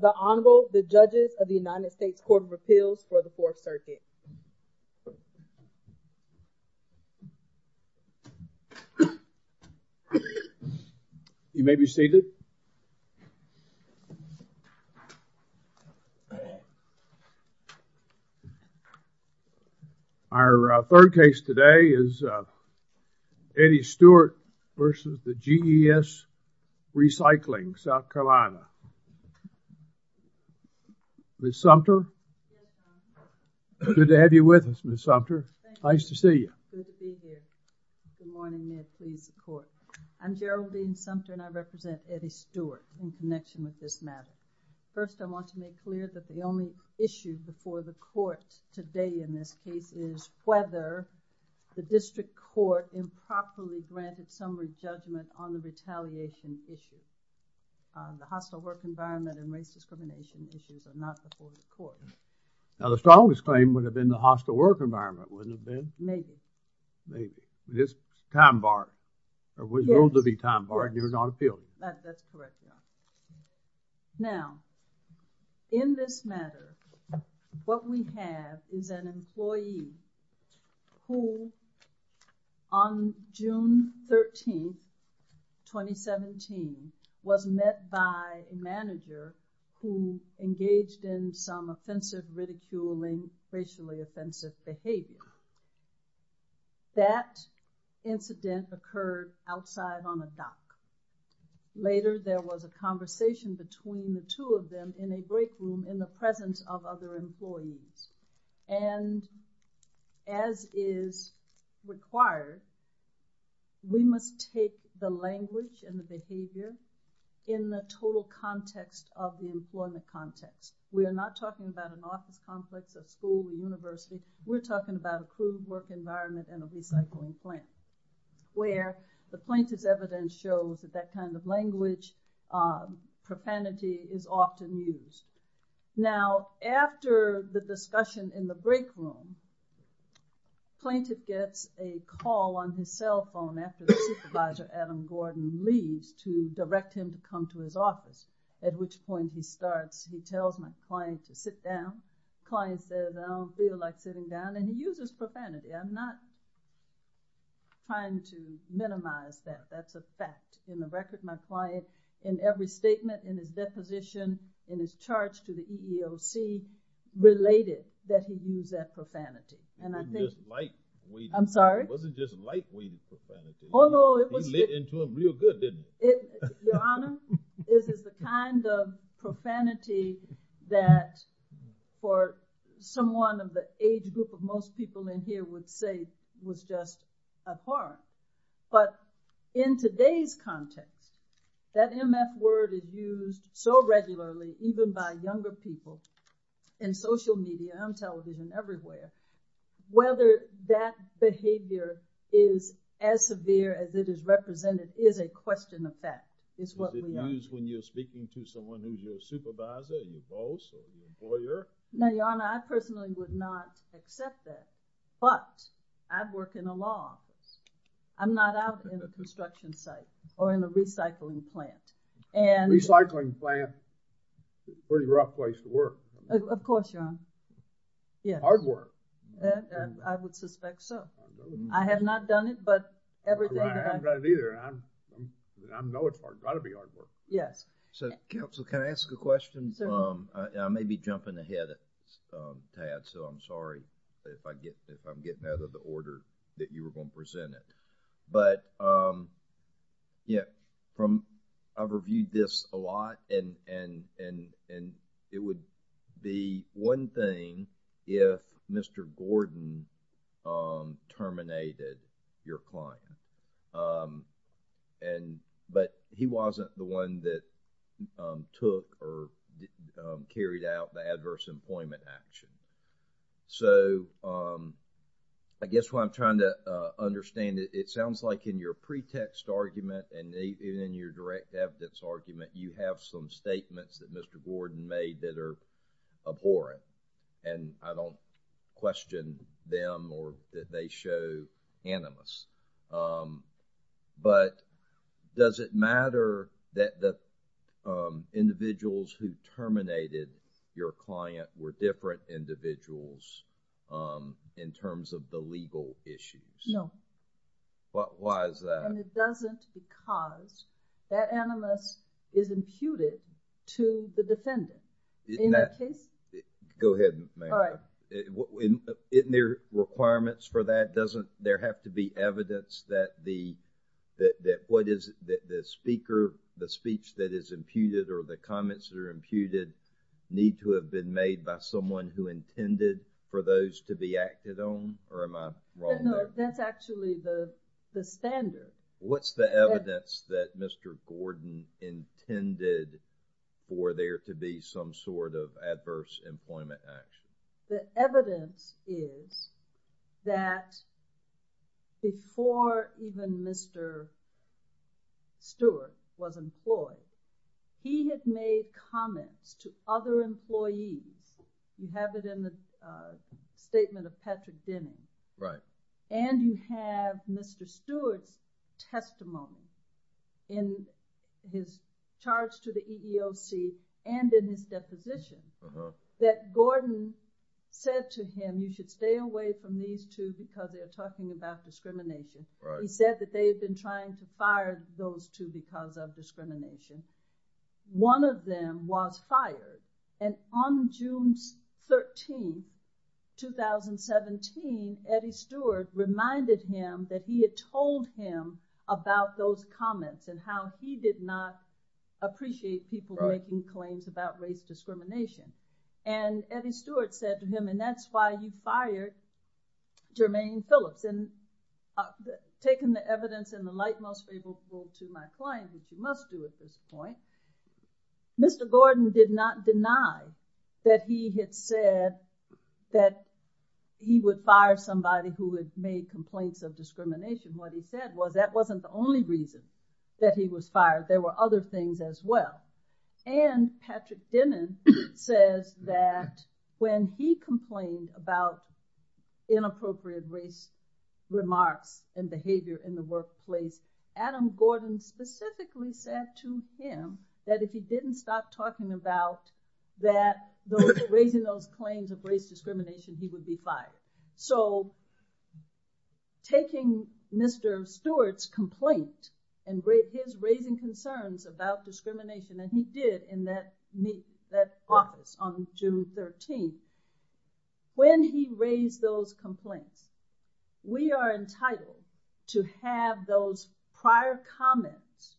The Honorable, the Judges of the United States Court of Appeals for the Fourth Circuit. You may be seated. Our third case today is Eddie Stewart versus the GES Recycling, South Carolina. Ms. Sumter, good to have you with us, Ms. Sumter. Nice to see you. Good to be here. Good morning. May it please the court. I'm Geraldine Sumter and I represent Eddie Stewart in connection with this matter. First, I want to make clear that the only issue before the court today in this case is whether the district court improperly granted summary judgment on the retaliation issue. The hostile work environment and race discrimination issues are not before the court. Now, the strongest claim would have been the hostile work environment, wouldn't it have been? Maybe. Maybe. It's time barred. It was ruled to be time barred and it was not appealed. That's correct. Now, in this matter, what we have is an employee who on June 13, 2017, was met by a manager who engaged in some offensive, ridiculing, racially offensive behavior. That incident occurred outside on a dock. Later, there was a conversation between the two of them in a break room in the presence of other employees. And as is required, we must take the language and the behavior in the total context of the employment context. We are not talking about an office complex, a school, a university. We're talking about a crude work environment and a recycling plant. Where the plaintiff's evidence shows that that kind of language profanity is often used. Now, after the discussion in the break room, plaintiff gets a call on his cell phone after the supervisor, Adam Gordon, leaves to direct him to come to his office. At which point he starts, he tells my client to sit down. Client says, I don't feel like sitting down. And he uses profanity. I'm not trying to minimize that. That's a fact. In the record, my client, in every statement, in his deposition, in his charge to the EEOC, related that he used that profanity. It wasn't just light-weighted. I'm sorry? It wasn't just light-weighted profanity. He lit into them real good, didn't he? Your Honor, this is the kind of profanity that for someone of the age group of most people in here would say was just abhorrent. But in today's context, that MF word is used so regularly, even by younger people, in social media, on television, everywhere. Whether that behavior is as severe as it is represented is a question of fact. It means when you're speaking to someone who's your supervisor, your boss, or your employer? No, Your Honor, I personally would not accept that, but I work in a law office. I'm not out in a construction site or in a recycling plant. Recycling plant, pretty rough place to work. Of course, Your Honor. Hard work. I would suspect so. I have not done it, but everything that I've done. I haven't done it either. I know it's got to be hard work. Yes. So, counsel, can I ask a question? I may be jumping ahead a tad, so I'm sorry if I'm getting out of the order that you were going to present it. But, yeah, I've reviewed this a lot and it would be one thing if Mr. Gordon terminated your client. But he wasn't the one that took or carried out the adverse employment action. So, I guess what I'm trying to understand, it sounds like in your pretext argument and in your direct evidence argument, you have some statements that Mr. Gordon made that are abhorrent. And I don't question them or that they show animus. But does it matter that the individuals who terminated your client were different individuals in terms of the legal issues? No. Why is that? And it doesn't because that animus is imputed to the defendant. Go ahead, ma'am. Isn't there requirements for that? Doesn't there have to be evidence that the speaker, the speech that is imputed or the comments that are imputed need to have been made by someone who intended for those to be acted on? Or am I wrong? No, that's actually the standard. What's the evidence that Mr. Gordon intended for there to be some sort of adverse employment action? The evidence is that before even Mr. Stewart was employed, he had made comments to other employees. You have it in the statement of Patrick Denny. Right. And you have Mr. Stewart's testimony in his charge to the EEOC and in his deposition that Gordon said to him, you should stay away from these two because they're talking about discrimination. Right. He said that they've been trying to fire those two because of discrimination. One of them was fired. And on June 13, 2017, Eddie Stewart reminded him that he had told him about those comments and how he did not appreciate people making claims about race discrimination. And Eddie Stewart said to him, and that's why you fired Jermaine Phillips. And taking the evidence in the light most favorable to my client, which you must do at this point, Mr. Gordon did not deny that he had said that he would fire somebody who had made complaints of discrimination. What he said was that wasn't the only reason that he was fired. There were other things as well. And Patrick Denny says that when he complained about inappropriate race remarks and behavior in the workplace, Adam Gordon specifically said to him that if he didn't stop talking about that, raising those claims of race discrimination, he would be fired. So taking Mr. Stewart's complaint and his raising concerns about discrimination that he did in that meeting, that office on June 13, when he raised those complaints, we are entitled to have those prior comments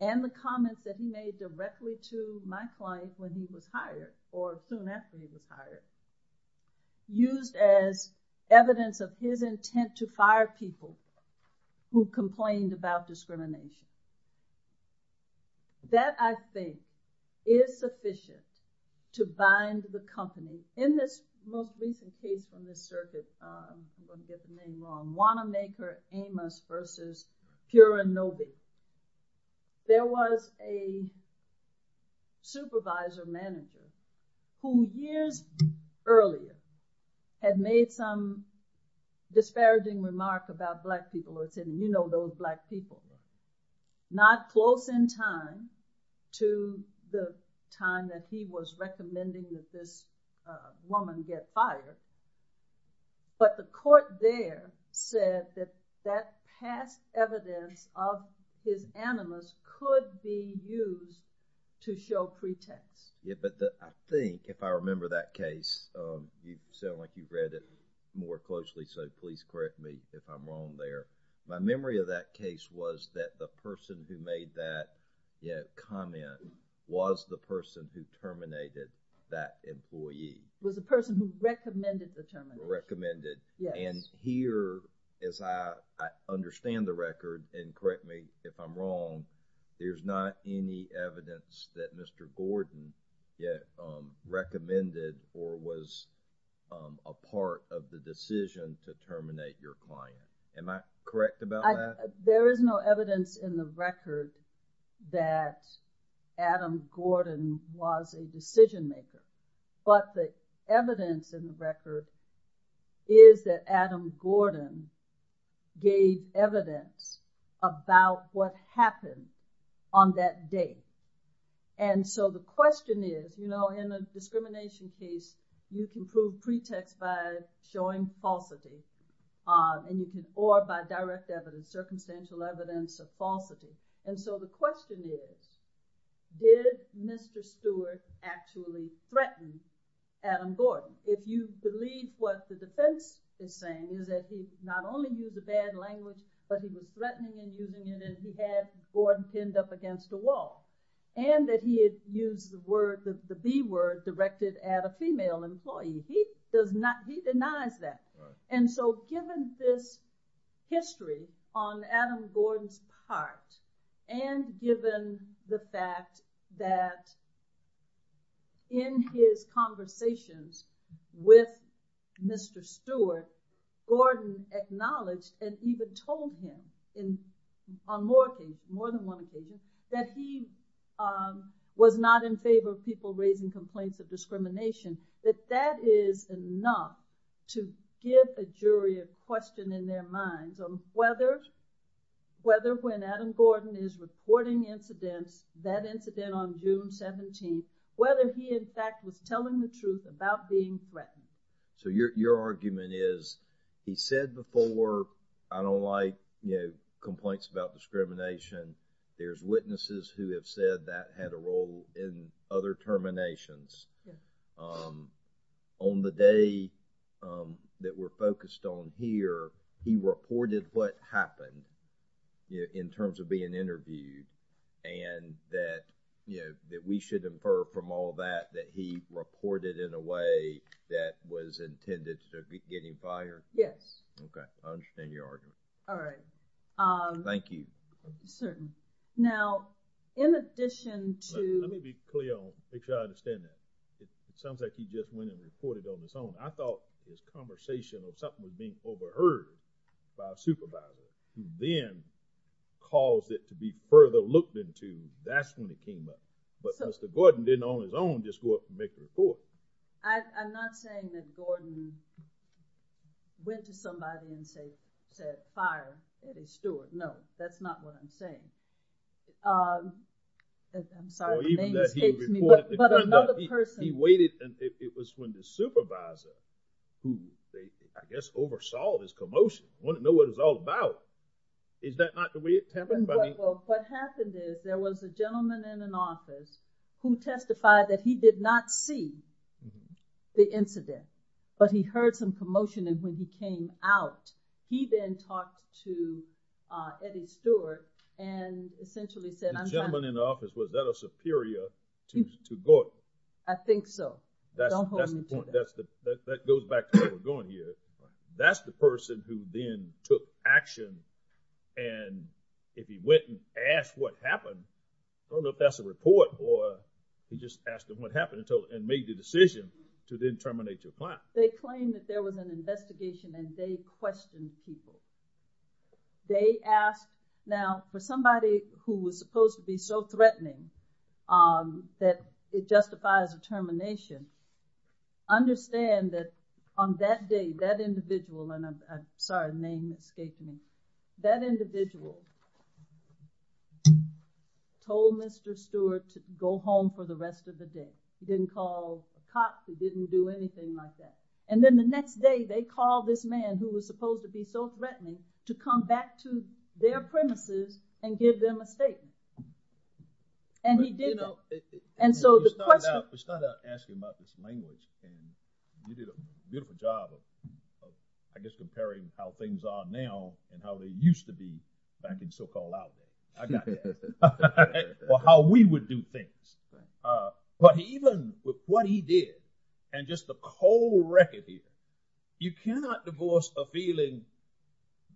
and the comments that he made directly to my client when he was hired or soon after he was hired used as evidence of his intent to fire people who complained about discrimination. That, I think, is sufficient to bind the company. In this most recent case in this circuit, I'm going to get the name wrong, Wanamaker Amos versus Purinobi, there was a supervisor manager who years earlier had made some disparaging remark about black people and said, you know those black people. Not close in time to the time that he was recommending that this woman get fired, but the court there said that that past evidence of his animus could be used to show pretext. Yeah, but I think if I remember that case, you sound like you read it more closely, so please correct me if I'm wrong there. My memory of that case was that the person who made that comment was the person who terminated that employee. Was the person who recommended the termination. Recommended. Yes. And here, as I understand the record, and correct me if I'm wrong, there's not any evidence that Mr. Gordon yet recommended or was a part of the decision to terminate your client. Am I correct about that? There is no evidence in the record that Adam Gordon was a decision maker, but the evidence in the record is that Adam Gordon gave evidence about what happened on that day. And so the question is, you know, in a discrimination case, you can prove pretext by showing falsity, or by direct evidence, circumstantial evidence of falsity. And so the question is, did Mr. Stewart actually threaten Adam Gordon? If you believe what the defense is saying is that he not only used a bad language, but he was threatening and using it, and he had Gordon pinned up against the wall. And that he had used the word, the B word, directed at a female employee. He does not, he denies that. And so given this history on Adam Gordon's part, and given the fact that in his conversations with Mr. Stewart, Gordon acknowledged and even told him, on more than one occasion, that he was not in favor of people raising complaints of discrimination, that that is enough to give a jury a question in their minds on whether, whether when Adam Gordon is reporting incidents, that incident on June 17th, whether he in fact was telling the truth about being threatened. So your argument is, he said before, I don't like, you know, complaints about discrimination. There's witnesses who have said that had a role in other terminations. On the day that we're focused on here, he reported what happened in terms of being interviewed. And that, you know, that we should infer from all that, that he reported in a way that was intended to be getting fired? Yes. Okay, I understand your argument. All right. Thank you. Certainly. Now, in addition to… Let me be clear on, make sure I understand that. It sounds like he just went and reported on his own. I thought this conversation was something that was being overheard by a supervisor, who then caused it to be further looked into. That's when it came up. But Mr. Gordon didn't, on his own, just go up and make the report. I'm not saying that Gordon went to somebody and said, fired Eddie Stewart. No, that's not what I'm saying. I'm sorry, my name escapes me. But another person… He waited, and it was when the supervisor, who I guess oversaw this commotion, wanted to know what it was all about. Is that not the way it happened? What happened is there was a gentleman in an office who testified that he did not see the incident, but he heard some commotion, and when he came out, he then talked to Eddie Stewart and essentially said… The gentleman in the office, was that a superior to Gordon? I think so. That's the point. That goes back to where we're going here. That's the person who then took action, and if he went and asked what happened, I don't know if that's a report or he just asked him what happened and made the decision to then terminate the client. They claimed that there was an investigation, and they questioned people. They asked… Now, for somebody who was supposed to be so threatening that it justifies a termination, understand that on that day, that individual… And I'm sorry, name escaped me. That individual told Mr. Stewart to go home for the rest of the day. He didn't call the cops. He didn't do anything like that. And then the next day, they called this man who was supposed to be so threatening to come back to their premises and give them a statement. And he did. And so the question… We started out asking about this language thing. You did a beautiful job of, I guess, comparing how things are now and how they used to be back in so-called out world. I got that. Or how we would do things. But even with what he did and just the whole record deal, you cannot divorce a feeling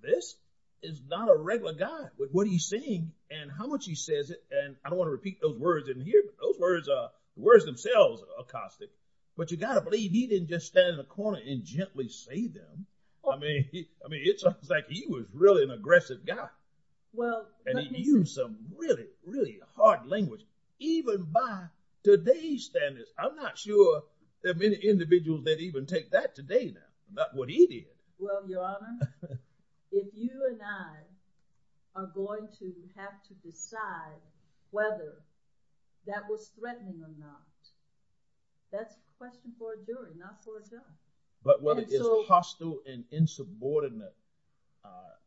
this is not a regular guy with what he's saying and how much he says it. And I don't want to repeat those words in here. Those words themselves are caustic. But you got to believe he didn't just stand in a corner and gently say them. I mean, it's like he was really an aggressive guy. And he used some really, really hard language, even by today's standards. I'm not sure there are many individuals that even take that today about what he did. Well, Your Honor, if you and I are going to have to decide whether that was threatening or not, that's a question for a jury, not for a judge. But what is hostile and insubordinate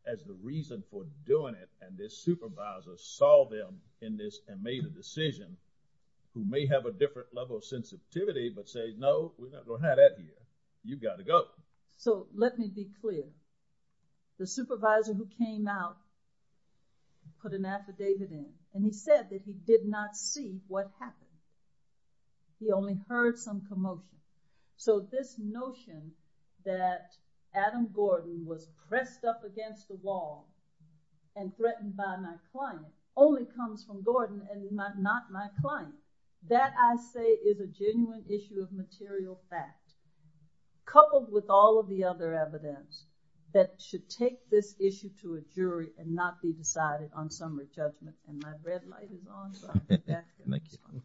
as the reason for doing it, and this supervisor saw them in this and made a decision, who may have a different level of sensitivity, but say, no, we're not going to have that here. You've got to go. So let me be clear. The supervisor who came out put an affidavit in. And he said that he did not see what happened. He only heard some commotion. So this notion that Adam Gordon was pressed up against the wall and threatened by my client only comes from Gordon and is not my client. That, I say, is a genuine issue of material fact, coupled with all of the other evidence that should take this issue to a jury and not be decided on summary judgment. And my red light is on. Thank you.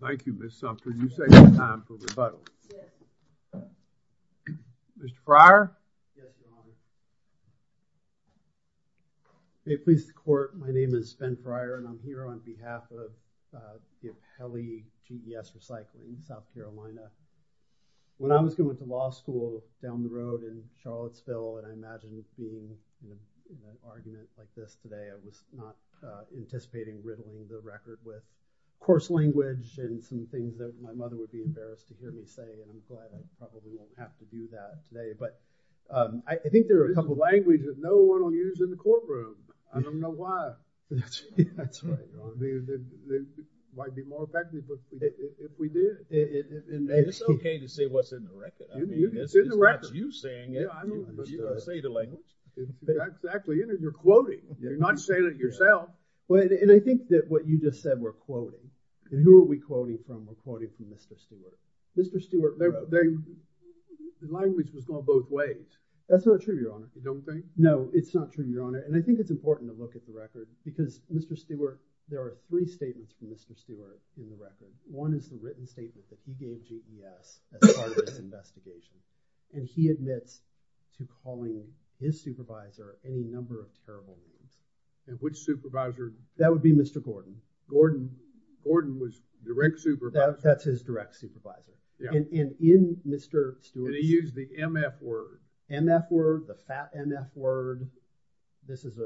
Thank you, Ms. Sumter. And you say it's time for rebuttal. Mr. Fryer? Yes, Your Honor. May it please the Court, my name is Ben Fryer, and I'm here on behalf of GetHellyGES Recycling in South Carolina. When I was going to law school down the road in Charlottesville, and I imagine you've seen an argument like this today, I was not anticipating riddling the record with coarse language and some things that my mother would be embarrassed to hear me say, and I'm glad I probably won't have to do that today. But I think there are a couple of things. This is language that no one will use in the courtroom. I don't know why. That's right, Your Honor. It might be more effective if we did. It's okay to say what's in the record. It's in the record. It's not you saying it. I don't say the language. That's exactly it, and you're quoting. You're not saying it yourself. And I think that what you just said were quoting. And who are we quoting from? We're quoting from Mr. Stewart. Mr. Stewart, the language was going both ways. That's not true, Your Honor. You don't think? No, it's not true, Your Honor, and I think it's important to look at the record because, Mr. Stewart, there are three statements from Mr. Stewart in the record. One is the written statement that he gave GES as part of this investigation, and he admits to calling his supervisor a number of terrible names. And which supervisor? That would be Mr. Gordon. Gordon. Gordon was direct supervisor. That's his direct supervisor. And in Mr. Stewart's. And he used the MF word. MF word, the fat MF word. This is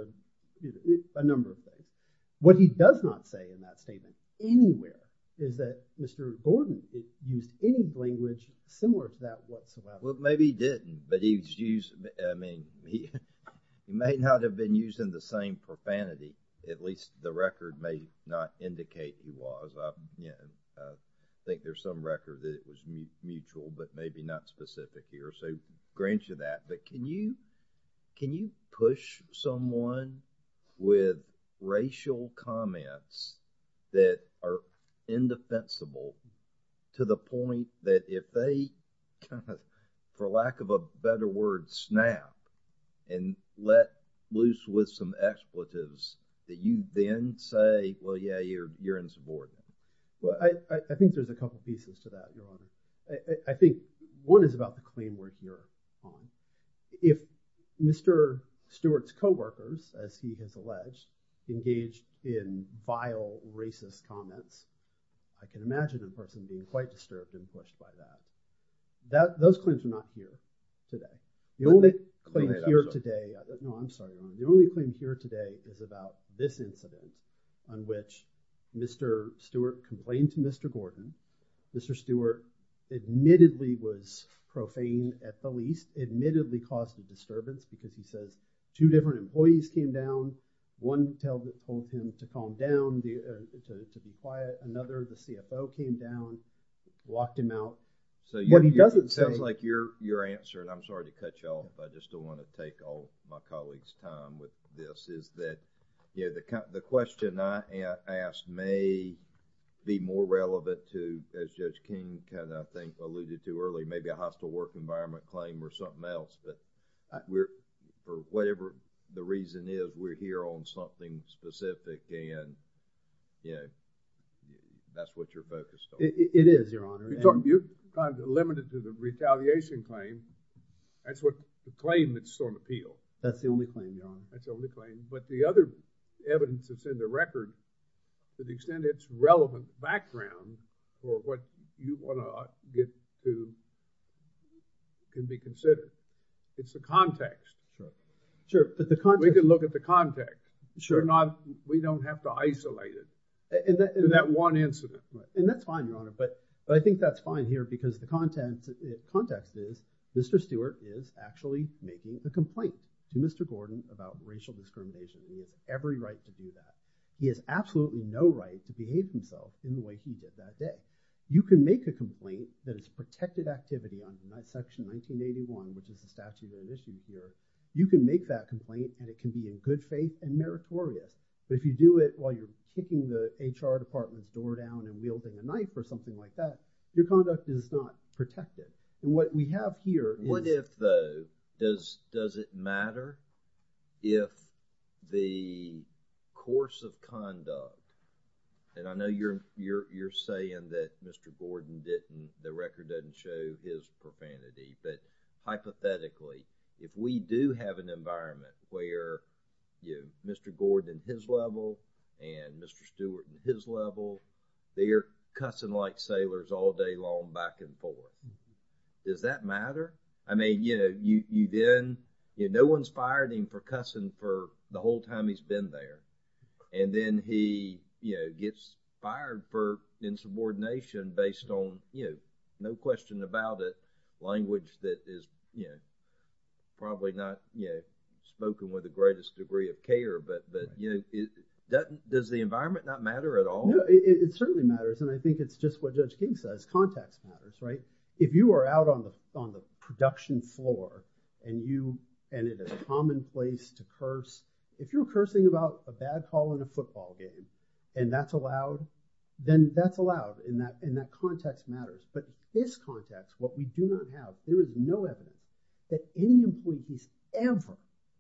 a number of things. What he does not say in that statement anywhere is that Mr. Gordon used any language similar to that whatsoever. Well, maybe he didn't, but he used, I mean, he may not have been using the same profanity. At least the record may not indicate he was. I think there's some record that it was mutual, but maybe not specific here. So grant you that, but can you push someone with racial comments that are indefensible to the point that if they, for lack of a better word, snap and let loose with some expletives that you then say, well, yeah, you're insubordinate. Well, I think there's a couple pieces to that, Your Honor. I think one is about the claim we're here on. If Mr. Stewart's coworkers, as he has alleged, engaged in vile, racist comments, I can imagine the person being quite disturbed and touched by that. Those claims are not here today. The only claim here today, no, I'm sorry, Your Honor. The only claim here today is about this incident on which Mr. Stewart complained to Mr. Gordon. Mr. Stewart admittedly was profaned at the least, admittedly caused a disturbance because he says two different employees came down. One told him to calm down, to be quiet. Another, the CFO, came down, locked him out. What he doesn't say... It sounds like your answer, and I'm sorry to cut you off, I just don't want to take all my colleagues' time with this, is that the question I asked may be more relevant to, as Judge King kind of, I think, alluded to earlier, maybe a hostile work environment claim or something else, but we're, for whatever the reason is, we're here on something specific and, you know, that's what you're focused on. It is, Your Honor. You're limited to the retaliation claim. That's the claim that's on appeal. That's the only claim, Your Honor. That's the only claim. But the other evidence that's in the record, to the extent it's relevant background for what you want to get to can be considered. It's the context. Sure, but the context... We can look at the context. Sure. We don't have to isolate it to that one incident. And that's fine, Your Honor, but I think that's fine here because the context is Mr. Stewart is actually making the complaint to Mr. Gordon about racial discrimination. He has every right to do that. He has absolutely no right to behave himself in the way he did that day. You can make a complaint that is a protected activity under Section 1981, which is the statute of limitations here. You can make that complaint and it can be in good faith and meritorious. But if you do it while you're kicking the HR department's door down and wielding a knife or something like that, your conduct is not protected. What we have here is... What if, though, does it matter if the course of conduct... And I know you're saying that Mr. Gordon didn't... The record doesn't show his profanity, but hypothetically, if we do have an environment where Mr. Gordon at his level and Mr. Stewart at his level, they're cussing like sailors all day long back and forth, does that matter? I mean, you know, you then... No one's fired him for cussing for the whole time he's been there. And then he, you know, gets fired for insubordination based on, you know, no question about it, a language that is probably not spoken with the greatest degree of care. But does the environment not matter at all? No, it certainly matters. And I think it's just what Judge King says. Context matters, right? If you are out on the production floor and it is commonplace to curse... If you're cursing about a bad call in a football game and that's allowed, then that's allowed and that context matters. But this context, what we do not have, there is no evidence that any employees ever,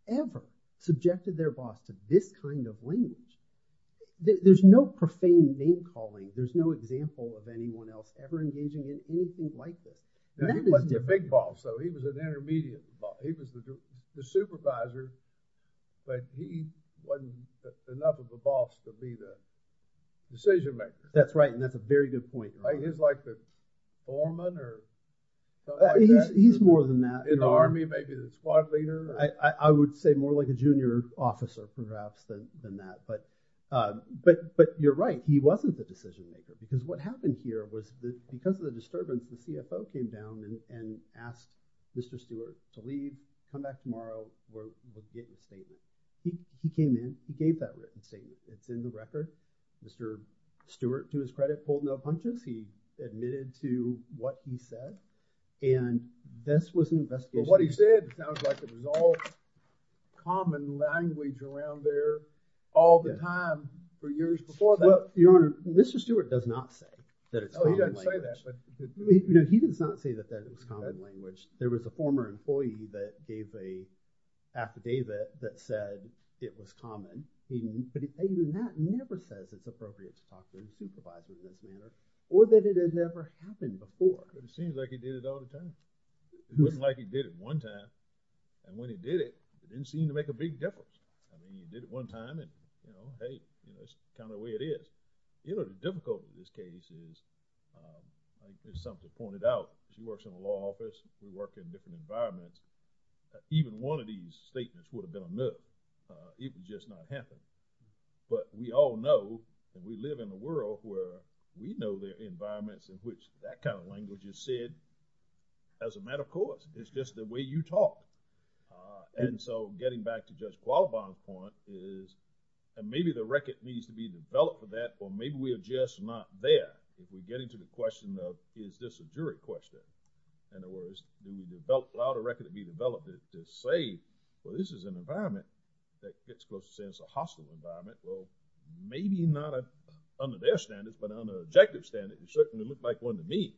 ever subjected their boss to this kind of language. There's no profane name-calling. There's no example of anyone else ever engaging in anything like this. And that is different. He wasn't a big boss, though. He was an intermediate boss. He was the supervisor, but he wasn't enough of a boss to be the decision-maker. That's right, and that's a very good point. He's like the foreman or something like that? He's more than that. In the Army, maybe the squad leader? I would say more like a junior officer, perhaps, than that. But you're right. He wasn't the decision-maker because what happened here was because of the disturbance, the CFO came down and asked Mr. Stewart to leave, come back tomorrow, wrote the written statement. He came in. He gave that written statement. It's in the record. Mr. Stewart, to his credit, pulled no punches. He admitted to what he said, and this was an investigation. But what he said sounds like it was all common language around there all the time for years before that. Well, Your Honor, Mr. Stewart does not say that it's common language. Oh, he doesn't say that, but... He does not say that that is common language. There was a former employee that gave a affidavit that said it was common. And that never says it's appropriate to talk to a supervisor like that or that it had never happened before. But it seems like he did it all the time. It wasn't like he did it one time, and when he did it, it didn't seem to make a big difference. I mean, he did it one time, and, you know, hey, that's kind of the way it is. You know, the difficulty of this case is, as something pointed out, he works in a law office. We work in different environments. Even one of these statements would have been enough. It would just not happen. But we all know, and we live in a world where we know the environments in which that kind of language is said as a matter of course. It's just the way you talk. And so getting back to Judge Qualibon's point is, and maybe the record needs to be developed for that, or maybe we are just not there if we get into the question of, is this a jury question? In other words, do you allow the record to be developed to say, well, this is an environment that gets close to saying it's a hostile environment? Well, maybe not under their standards, but under objective standards, it certainly looked like one to me.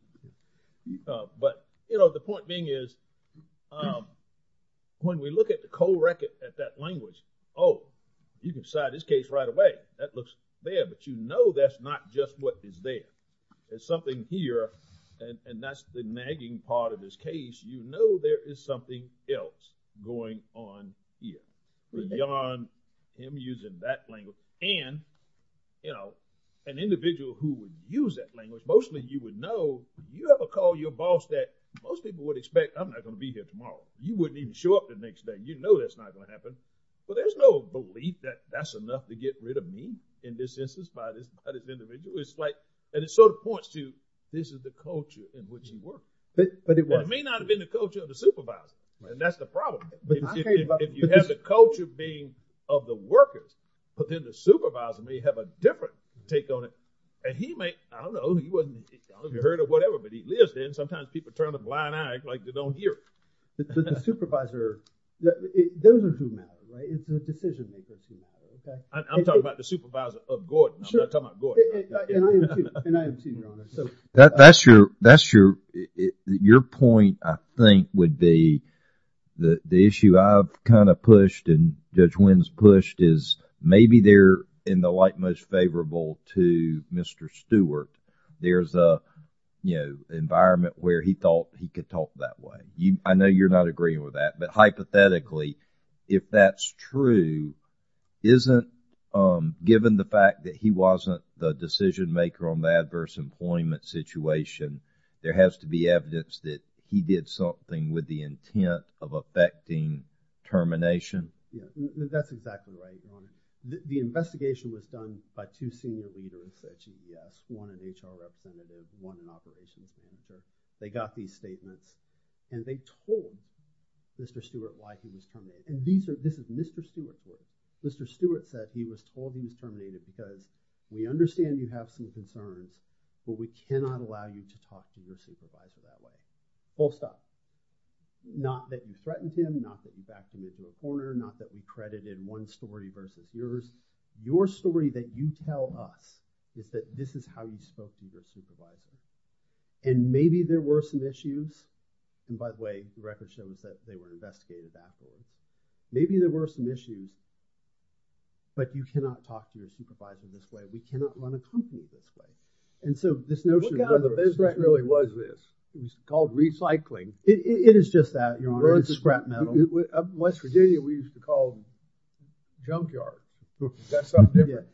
But, you know, the point being is, when we look at the cold record at that language, oh, you can decide this case right away. That looks there, but you know that's not just what is there. There's something here, and that's the nagging part of this case. You know there is something else going on here beyond him using that language. And, you know, an individual who would use that language, mostly you would know, if you ever call your boss that, most people would expect, I'm not gonna be here tomorrow. You wouldn't even show up the next day. You know that's not gonna happen. But there's no belief that that's enough to get rid of me in this instance by this individual. It's like, and it sort of points to, this is the culture in which you work. It may not have been the culture of the supervisor, and that's the problem. If you have the culture being of the workers, but then the supervisor may have a different take on it, and he may, I don't know, he wasn't hurt or whatever, but he lives there, and sometimes people turn a blind eye like they don't hear it. But the supervisor, those are who matter, right? It's the decision makers who matter. I'm talking about the supervisor of Gordon. I'm not talking about Gordon. And I am too, Your Honor. That's your, your point I think would be the issue I've kind of pushed and Judge Wins pushed is maybe they're in the light most favorable to Mr. Stewart. There's a, you know, environment where he thought he could talk that way. I know you're not agreeing with that, but hypothetically, if that's true, isn't, given the fact that he wasn't the decision maker on the adverse employment situation, there has to be evidence that he did something with the intent of affecting termination? Yeah, that's exactly right, Your Honor. The investigation was done by two senior leaders at GDS, one an HR representative, one an operations team, so they got these statements, and they told Mr. Stewart why he was terminated. And these are, this is Mr. Stewart's words. Mr. Stewart said he was told he was terminated because we understand you have some concerns, but we cannot allow you to talk to your supervisor that way. Full stop. Not that you threatened him, not that you backed him into a corner, not that we credited one story versus yours. Your story that you tell us is that this is how you spoke to your supervisor. And maybe there were some issues, and by the way, the record shows that they were investigated that way. Maybe there were some issues, but you cannot talk to your supervisor this way. We cannot run a company this way. And so this notion of whether a scrap metal... Look how the business really was this. It was called recycling. It is just that, Your Honor. It's scrap metal. Up in West Virginia, we used to call them junkyard. That's something different.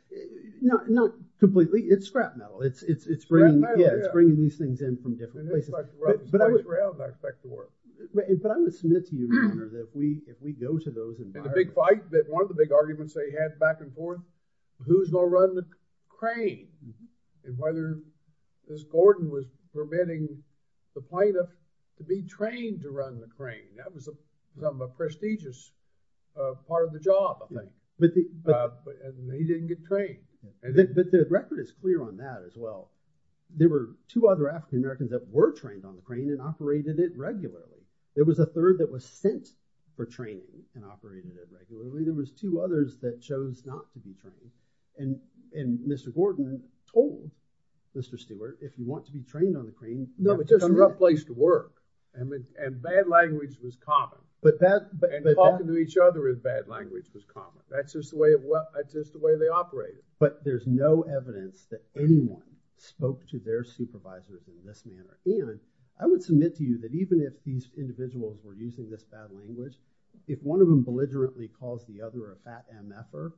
Not completely. It's scrap metal. It's bringing these things in from different places. It's twice around, I expect, to work. But I would submit to you, Your Honor, that if we go to those environments... The big fight, one of the big arguments they had back and forth, who's gonna run the crane? And whether this Gordon was permitting the plaintiff to be trained to run the crane. That was some prestigious part of the job, I think. But he didn't get trained. But the record is clear on that as well. There were two other African Americans that were trained on the crane and operated it regularly. There was a third that was sent for training and operated it regularly. There was two others that chose not to be trained. And Mr. Gordon told Mr. Stewart, if you want to be trained on the crane... No, it's just a rough place to work. And bad language was common. But that... And talking to each other in bad language was common. That's just the way they operated. But there's no evidence that anyone spoke to their supervisors in this manner. And I would submit to you that even if these individuals were using this bad language, if one of them belligerently calls the other a fat MF-er,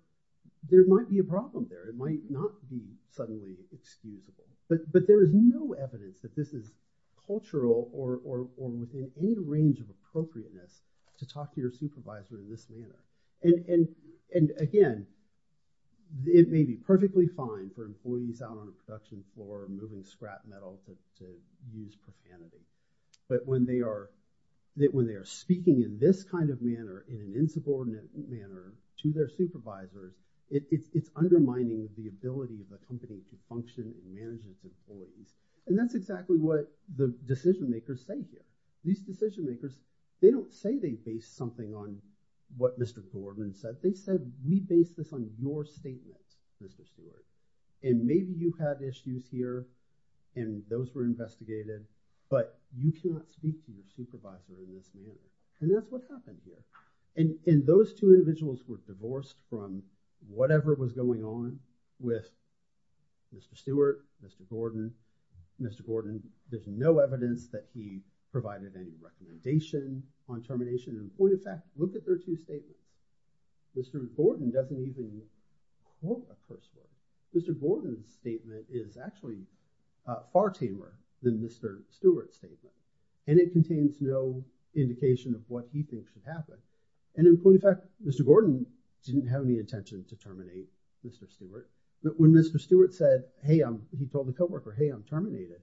there might be a problem there. It might not be suddenly excusable. But there is no evidence that this is cultural or within any range of appropriateness to talk to your supervisor in this manner. And again, it may be perfectly fine for employees out on the production floor moving scrap metal to use profanity. But when they are speaking in this kind of manner, in an insubordinate manner to their supervisors, it's undermining the ability of a company to function and manage its employees. And that's exactly what the decision-makers say here. These decision-makers, they don't say they base something on what Mr. Gordon said. They said, we base this on your statements, Mr. Stewart. And maybe you have issues here, and those were investigated. But you cannot speak to your supervisor in this manner. And that's what happened here. And those two individuals were divorced from whatever was going on with Mr. Stewart, Mr. Gordon. Mr. Gordon, there's no evidence that he provided any recommendation on termination. And point of fact, look at their two statements. Mr. Gordon doesn't even quote a person. Mr. Gordon's statement is actually far tamer than Mr. Stewart's statement. And it contains no indication of what he thinks would happen. And in point of fact, Mr. Gordon didn't have any intention to terminate Mr. Stewart. But when Mr. Stewart said, hey, I'm, he told the co-worker, hey, I'm terminated,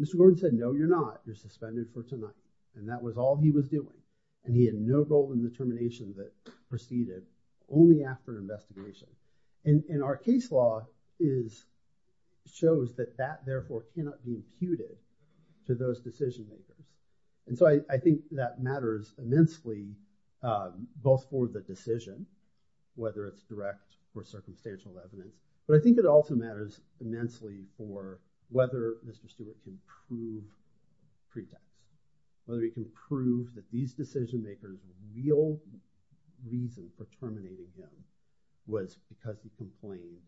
Mr. Gordon said, no, you're not. You're suspended for tonight. And that was all he was doing. And he had no role in the termination that proceeded only after an investigation. And our case law shows that that, therefore, cannot be imputed to those decision-makers. And so I think that matters immensely, both for the decision, whether it's direct or circumstantial evidence. But I think it also matters immensely for whether Mr. Stewart can prove pretext, whether he can prove that these decision-makers' real reason for terminating him was because he complained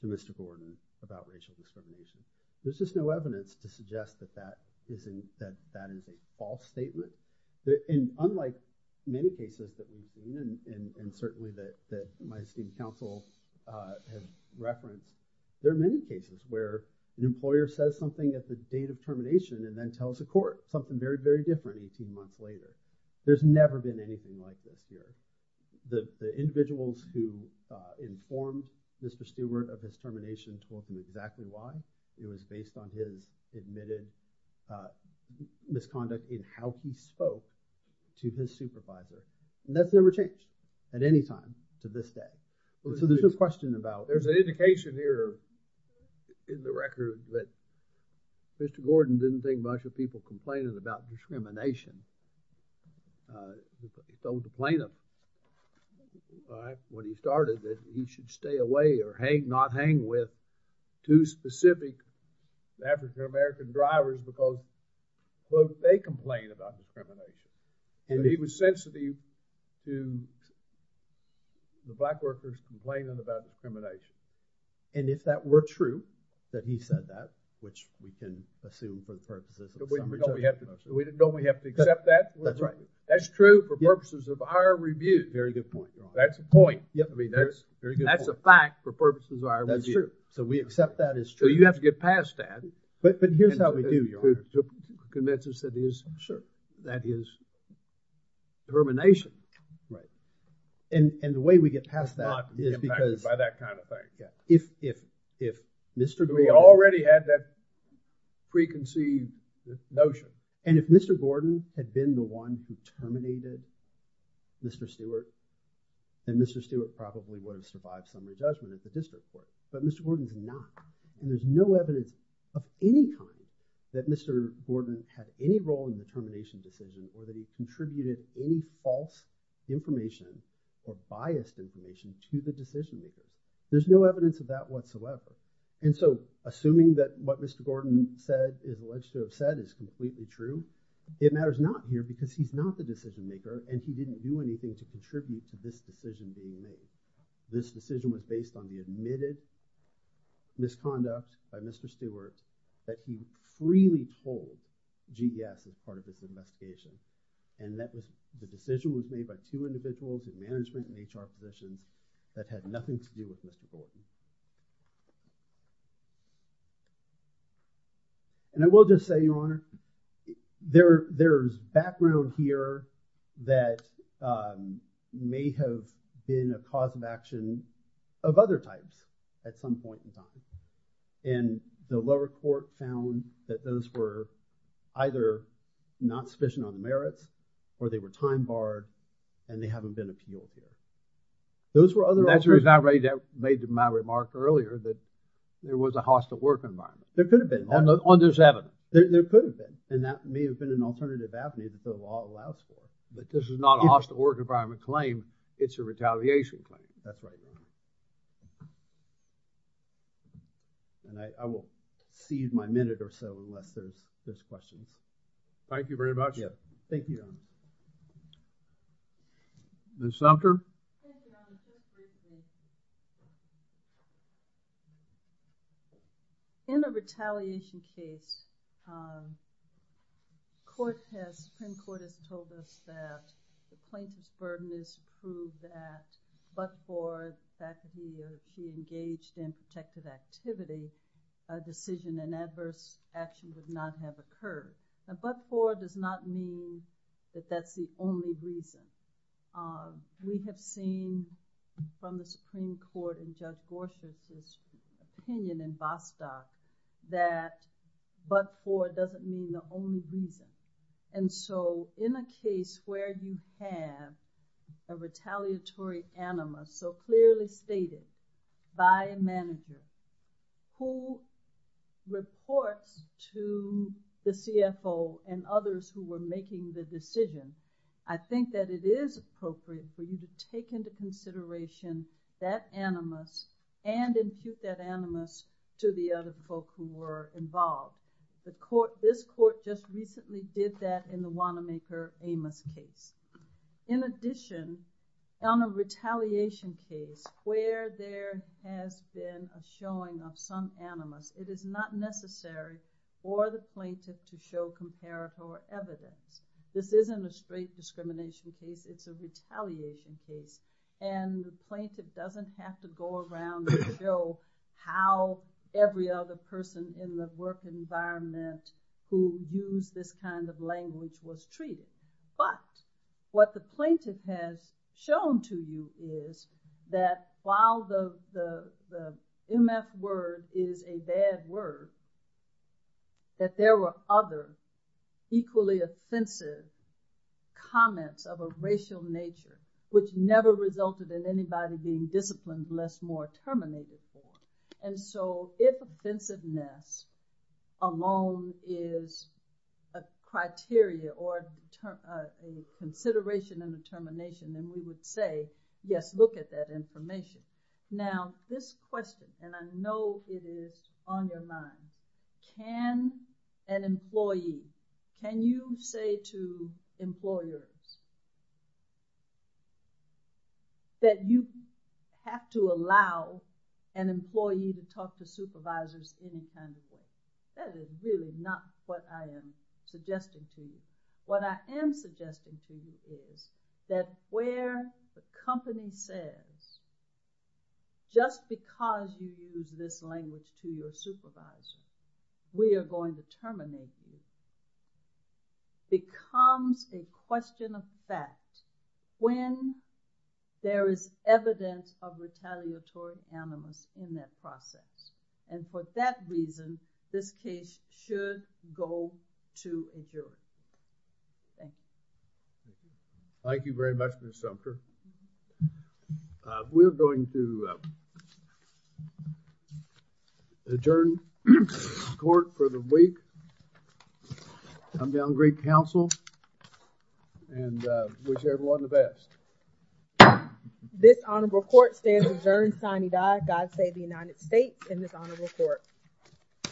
to Mr. Gordon about racial discrimination. There's just no evidence to suggest that that is a false statement. And unlike many cases that we've seen, and certainly that my esteemed counsel has referenced, there are many cases where an employer says something at the date of termination and then tells a court something very, very different 18 months later. There's never been anything like this here. The individuals who informed Mr. Stewart of his termination told him exactly why. It was based on his admitted misconduct in how he spoke to his supervisor. And that's never changed at any time to this day. So there's no question about it. There's an indication here in the record that Mr. Gordon didn't think much of people complaining about discrimination. He told the plaintiff when he started that he should stay away or not hang with two specific African-American drivers because both they complain about discrimination. And he was sensitive to the black workers complaining about discrimination. And if that were true, that he said that, which we can assume for the purposes of the summary judgment process. Don't we have to accept that? That's right. That's true for purposes of our review. Very good point, Your Honor. That's a point. That's a fact for purposes of our review. That's true. So we accept that as true. So you have to get past that. But here's how we do, Your Honor. To convince us that is termination. And the way we get past that is because if Mr. Gordon had been the one who terminated Mr. Stewart, then Mr. Stewart probably would have survived summary judgment at the district court. But Mr. Gordon's not. And there's no evidence of any kind that Mr. Gordon had any role in the termination decision or that he contributed any false information or biased information to the decision. There's no evidence of that whatsoever. And so assuming that what Mr. Gordon said is alleged to have said is completely true, it matters not here because he's not the decision maker and he didn't do anything to contribute to this decision being made. This decision was based on the admitted misconduct by Mr. Stewart that he freely told GDS as part of this investigation and that the decision was made by two individuals with management and HR positions that had nothing to do with Mr. Gordon. And I will just say, Your Honor, there's background here that may have been a cause of action of other types at some point in time. And the lower court found that those were either not sufficient on merits or they were time barred and they haven't been appealed yet. Those were other... That's the reason I made my remark earlier that it was a hostile work environment. There could have been. On this evidence. There could have been. And that may have been an alternative avenue that the law allows for. But this is not a hostile work environment claim. It's a retaliation claim. That's right, Your Honor. And I will seize my minute or so unless there's questions. Thank you very much. Yes. Thank you, Your Honor. Ms. Sumter. In the retaliation case, court has, Supreme Court has told us that the plaintiff's burden is proved that but for the fact that he engaged in protective activity, a decision and adverse action did not have occurred. But for does not mean that that's the only reason. We have seen from the Supreme Court in Judge Gorsuch's opinion in Vostok that but for doesn't mean the only reason. And so in a case where you have a retaliatory animus so clearly stated by a manager who reports to the CFO and others who were making the decision, I think that it is appropriate for you to take into consideration that animus and impute that animus to the other folk who were involved. This court just recently did that in the Wanamaker Amos case. In addition, on a retaliation case where there has been a showing of some animus, it is not necessary for the plaintiff to show comparator evidence. This isn't a straight discrimination case. It's a retaliation case. And the plaintiff doesn't have to go around and show how every other person in the work environment who used this kind of language was treated. But what the plaintiff has shown to you is that while the MF word is a bad word, that there were other equally offensive comments of a racial nature which never resulted in anybody being disciplined lest more terminated form. And so if offensiveness alone is a criteria or a consideration and determination, then we would say, yes, look at that information. Now, this question, and I know it is on your mind, can an employee, can you say to employers that you have to allow an employee to talk to supervisors any kind of way? That is really not what I am suggesting to you. What I am suggesting to you is that where the company says, just because you use this language to your supervisor, we are going to terminate you, becomes a question of fact when there is evidence of retaliatory animus in that process. And for that reason, this case should go to a jury. Thank you. Thank you very much, Ms. Sumter. We are going to adjourn the court for the week. Come down to great counsel and wish everyone the best. This honorable court stands adjourned, sine die, God save the United States and this honorable court.